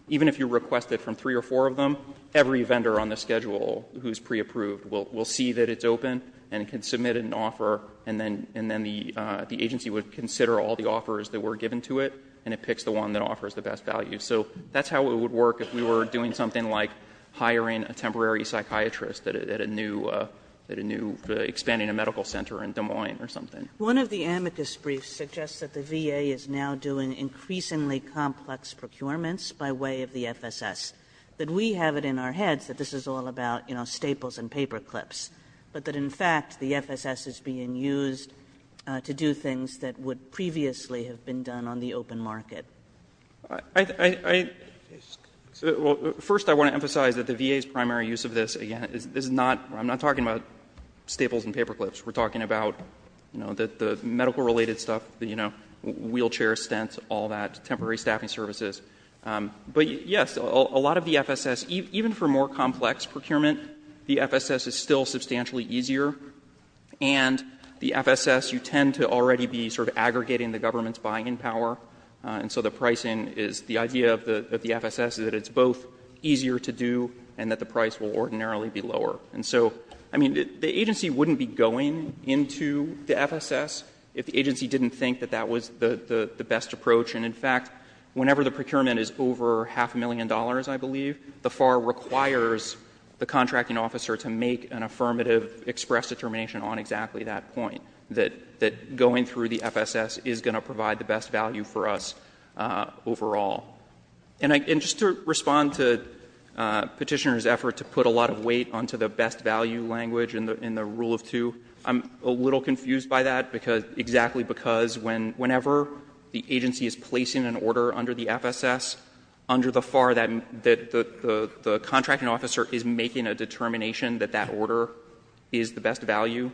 even if you request it from three or four of them, every vendor on the schedule who's preapproved will see that it's open and can submit an offer, and then the agency would consider all the offers that were given to it, and it picks the one that offers the best value. So that's how it would work if we were doing something like hiring a temporary psychiatrist at a new — at a new — expanding a medical center in Des Moines or something. One of the amicus briefs suggests that the VA is now doing increasingly complex procurements by way of the FSS, that we have it in our heads that this is all about, you know, staples and paperclips, but that, in fact, the FSS is being used to do things that would previously have been done on the open market. I — well, first I want to emphasize that the VA's primary use of this, again, is not — I'm not talking about staples and paperclips. We're talking about, you know, the medical-related stuff, you know, wheelchair stents, all that, temporary staffing services. But, yes, a lot of the FSS — even for more complex procurement, the FSS is still substantially easier, and the FSS, you tend to already be sort of aggregating the government's buying power, and so the pricing is — the idea of the FSS is that it's both easier to do and that the price will ordinarily be lower. And so, I mean, the agency wouldn't be going into the FSS if the agency didn't think that that was the best approach, and, in fact, whenever the procurement is over half a million dollars, I believe, the FAR requires the contracting officer to make an affirmative express determination on exactly that point, that going through the FSS is going to provide the best value for us overall. And I — and just to respond to Petitioner's effort to put a lot of weight onto the best value language in the rule of two, I'm a little confused by that, because — exactly because when — whenever the agency is placing an order under the FSS, under the FAR, that the contracting officer is making a determination that that order is the best value.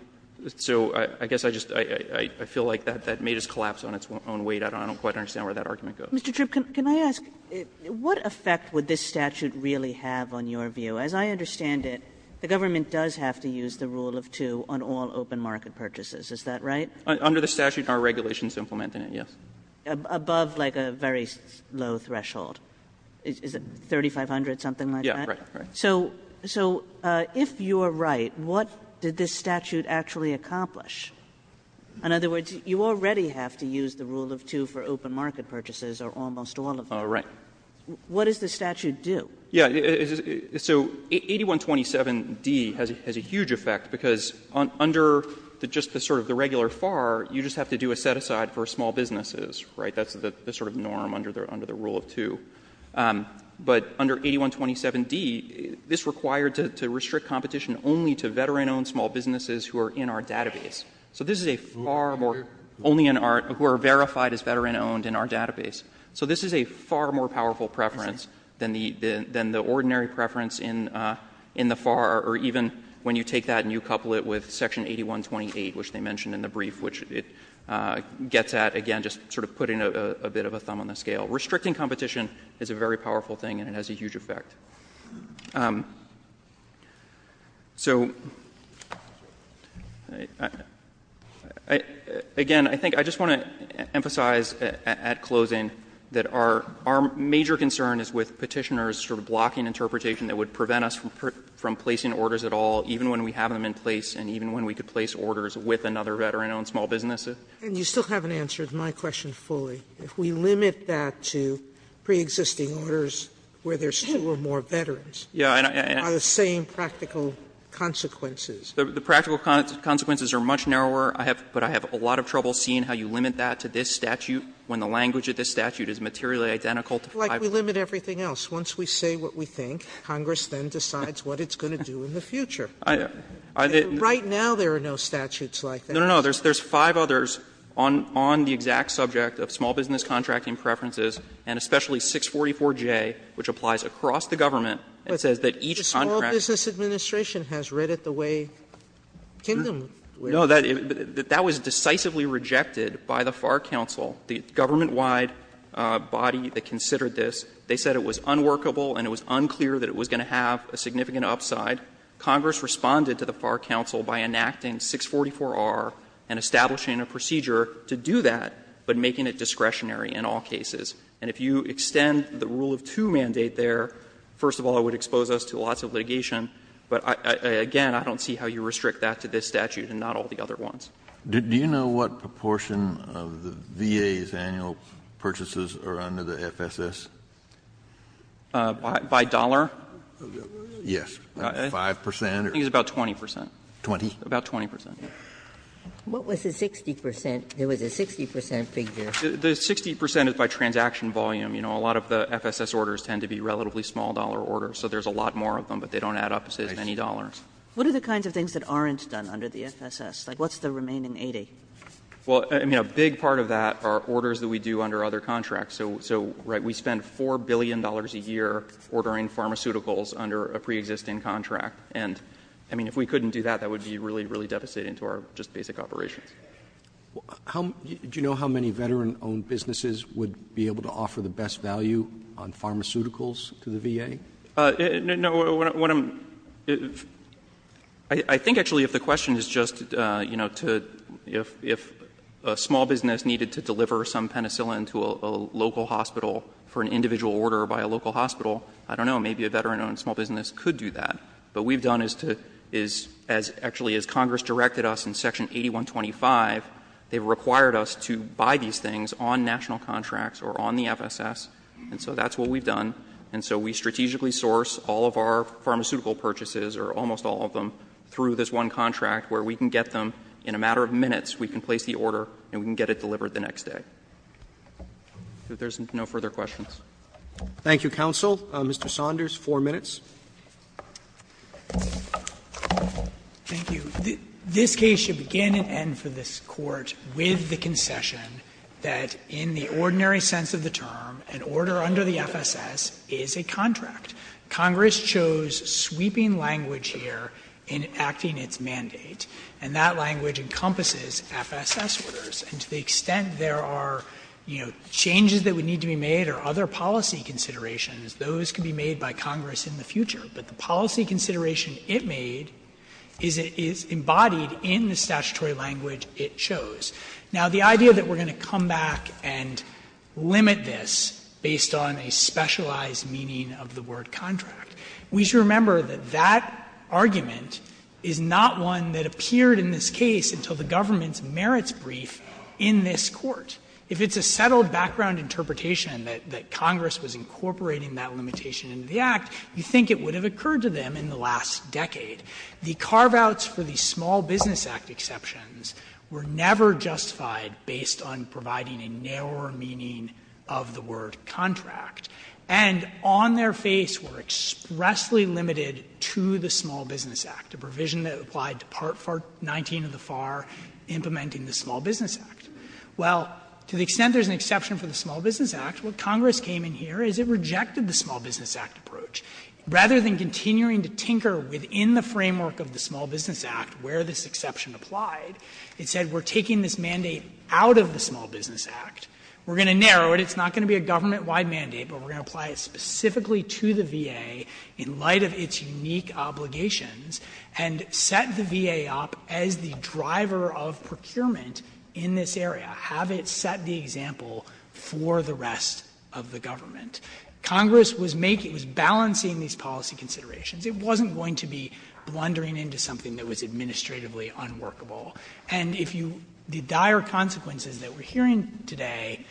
So I guess I just — I feel like that may just collapse on its own weight. I don't quite understand where that argument goes. Kagan. Mr. Tripp, can I ask, what effect would this statute really have on your view? As I understand it, the government does have to use the rule of two on all open market purchases. Is that right? Under the statute, our regulation is implementing it, yes. Above, like, a very low threshold. Is it 3,500, something like that? Right. Right. So — so if you are right, what did this statute actually accomplish? In other words, you already have to use the rule of two for open market purchases or almost all of them. Oh, right. What does the statute do? Yeah. So 8127d has a huge effect, because under just the sort of the regular FAR, you just have to do a set-aside for small businesses, right? That's the sort of norm under the — under the rule of two. But under 8127d, this required to restrict competition only to veteran-owned small businesses who are in our database. So this is a far more — only in our — who are verified as veteran-owned in our database. So this is a far more powerful preference than the ordinary preference in the FAR, or even when you take that and you couple it with section 8128, which they mentioned in the brief, which it gets at, again, just sort of putting a bit of a thumb on the scale. Restricting competition is a very powerful thing, and it has a huge effect. So, again, I think I just want to emphasize at closing that our — our major concern is with Petitioner's sort of blocking interpretation that would prevent us from placing orders at all, even when we have them in place and even when we could place orders with another veteran-owned small business. Sotomayor, and you still haven't answered my question fully. If we limit that to preexisting orders where there's two or more veterans, are the same practical consequences? The practical consequences are much narrower, but I have a lot of trouble seeing how you limit that to this statute, when the language of this statute is materially identical to 5. Like we limit everything else. Once we say what we think, Congress then decides what it's going to do in the future. Right now there are no statutes like that. No, no, no. There's five others on the exact subject of small business contracting preferences, and especially 644J, which applies across the government, and says that each contract But the Small Business Administration has read it the way Kingdom reads it. No, that was decisively rejected by the FAR Council, the government-wide body that considered this. They said it was unworkable and it was unclear that it was going to have a significant upside. Congress responded to the FAR Council by enacting 644R and establishing a procedure to do that, but making it discretionary in all cases. And if you extend the Rule of Two mandate there, first of all, it would expose us to lots of litigation. But again, I don't see how you restrict that to this statute and not all the other ones. Kennedy, do you know what proportion of the VA's annual purchases are under the FSS? By dollar? Yes. 5 percent? I think it's about 20 percent. 20? About 20 percent. What was the 60 percent? There was a 60 percent figure. The 60 percent is by transaction volume. You know, a lot of the FSS orders tend to be relatively small dollar orders, so there's a lot more of them, but they don't add up to as many dollars. What are the kinds of things that aren't done under the FSS? Like, what's the remaining 80? Well, I mean, a big part of that are orders that we do under other contracts. So, right, we spend $4 billion a year ordering pharmaceuticals under a preexisting contract, and, I mean, if we couldn't do that, that would be really, really devastating to our just basic operations. Do you know how many veteran-owned businesses would be able to offer the best value on pharmaceuticals to the VA? No, what I'm — I think, actually, if the question is just, you know, to — if a small business needed to deliver some penicillin to a local hospital for an individual order by a local hospital, I don't know. Maybe a veteran-owned small business could do that. But what we've done is to — is, actually, as Congress directed us in section 8125, they've required us to buy these things on national contracts or on the FSS, and so that's what we've done. And so we strategically source all of our pharmaceutical purchases, or almost all of them, through this one contract where we can get them in a matter of minutes. We can place the order and we can get it delivered the next day. If there's no further questions. Roberts. Roberts Thank you, counsel. Mr. Saunders, 4 minutes. Saunders Thank you. This case should begin and end for this Court with the concession that in the ordinary sense of the term, an order under the FSS is a contract. Congress chose sweeping language here in acting its mandate, and that language encompasses FSS orders. And to the extent there are, you know, changes that would need to be made or other policy considerations, those could be made by Congress in the future. But the policy consideration it made is embodied in the statutory language it chose. Now, the idea that we're going to come back and limit this based on a specialized meaning of the word contract, we should remember that that argument is not one that in this Court, if it's a settled background interpretation that Congress was incorporating that limitation into the Act, you think it would have occurred to them in the last decade. The carve-outs for the Small Business Act exceptions were never justified based on providing a narrower meaning of the word contract, and on their face were expressly limited to the Small Business Act, a provision that applied to Part 19 of the FAR implementing the Small Business Act. Well, to the extent there's an exception for the Small Business Act, what Congress came in here is it rejected the Small Business Act approach. Rather than continuing to tinker within the framework of the Small Business Act where this exception applied, it said we're taking this mandate out of the Small Business Act, we're going to narrow it, it's not going to be a government-wide mandate, but we're going to apply it specifically to the VA in light of its unique obligations, and set the VA up as the driver of procurement in this area. Have it set the example for the rest of the government. Congress was making, was balancing these policy considerations. It wasn't going to be blundering into something that was administratively unworkable. And if you the dire consequences that we're hearing today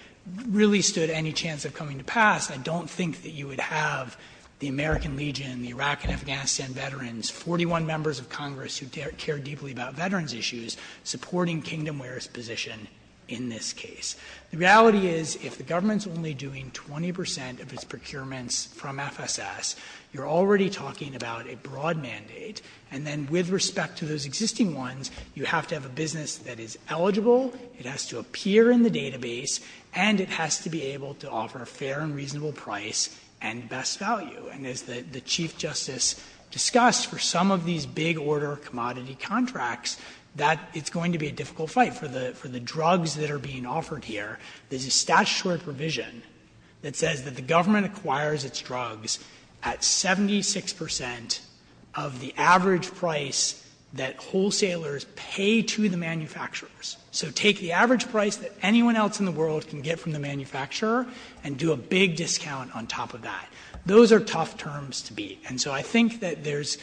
really stood any chance of coming to pass, I don't think that you would have the American Legion, the Iraq and Afghanistan veterans, 41 members of Congress who care deeply about veterans issues, supporting Kingdomware's position in this case. The reality is if the government's only doing 20 percent of its procurements from FSS, you're already talking about a broad mandate. And then with respect to those existing ones, you have to have a business that is eligible, it has to appear in the database, and it has to be able to offer a fair and reasonable price and best value. And as the Chief Justice discussed, for some of these big order commodity contracts, that it's going to be a difficult fight for the drugs that are being offered here. There's a statutory provision that says that the government acquires its drugs at 76 percent of the average price that wholesalers pay to the manufacturers. So take the average price that anyone else in the world can get from the manufacturer and do a big discount on top of that. Those are tough terms to beat. And so I think that there's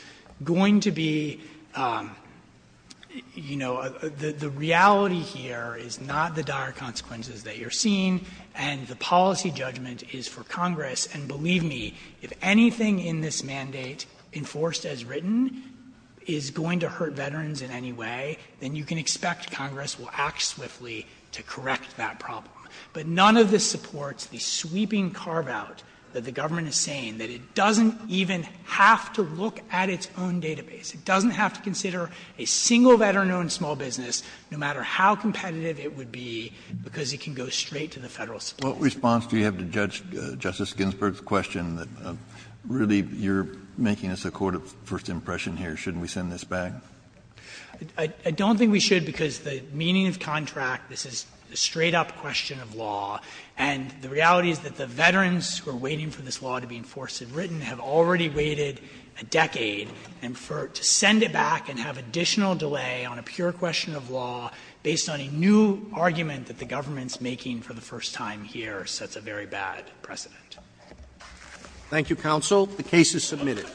going to be, you know, the reality here is not the dire consequences that you're seeing, and the policy judgment is for Congress. And believe me, if anything in this mandate, enforced as written, is going to hurt veterans in any way, then you can expect Congress will act swiftly to correct that problem. But none of this supports the sweeping carve-out that the government is saying, that it doesn't even have to look at its own database. It doesn't have to consider a single veteran-owned small business, no matter how competitive it would be, because it can go straight to the Federal system. Kennedy What response do you have to Justice Ginsburg's question that really you're making us a court of first impression here, shouldn't we send this back? I don't think we should, because the meaning of contract, this is a straight-up question of law, and the reality is that the veterans who are waiting for this law to be enforced as written have already waited a decade to send it back and have additional delay on a pure question of law based on a new argument that the government's making for the first time here sets a very bad precedent. Roberts Thank you, counsel. The case is submitted.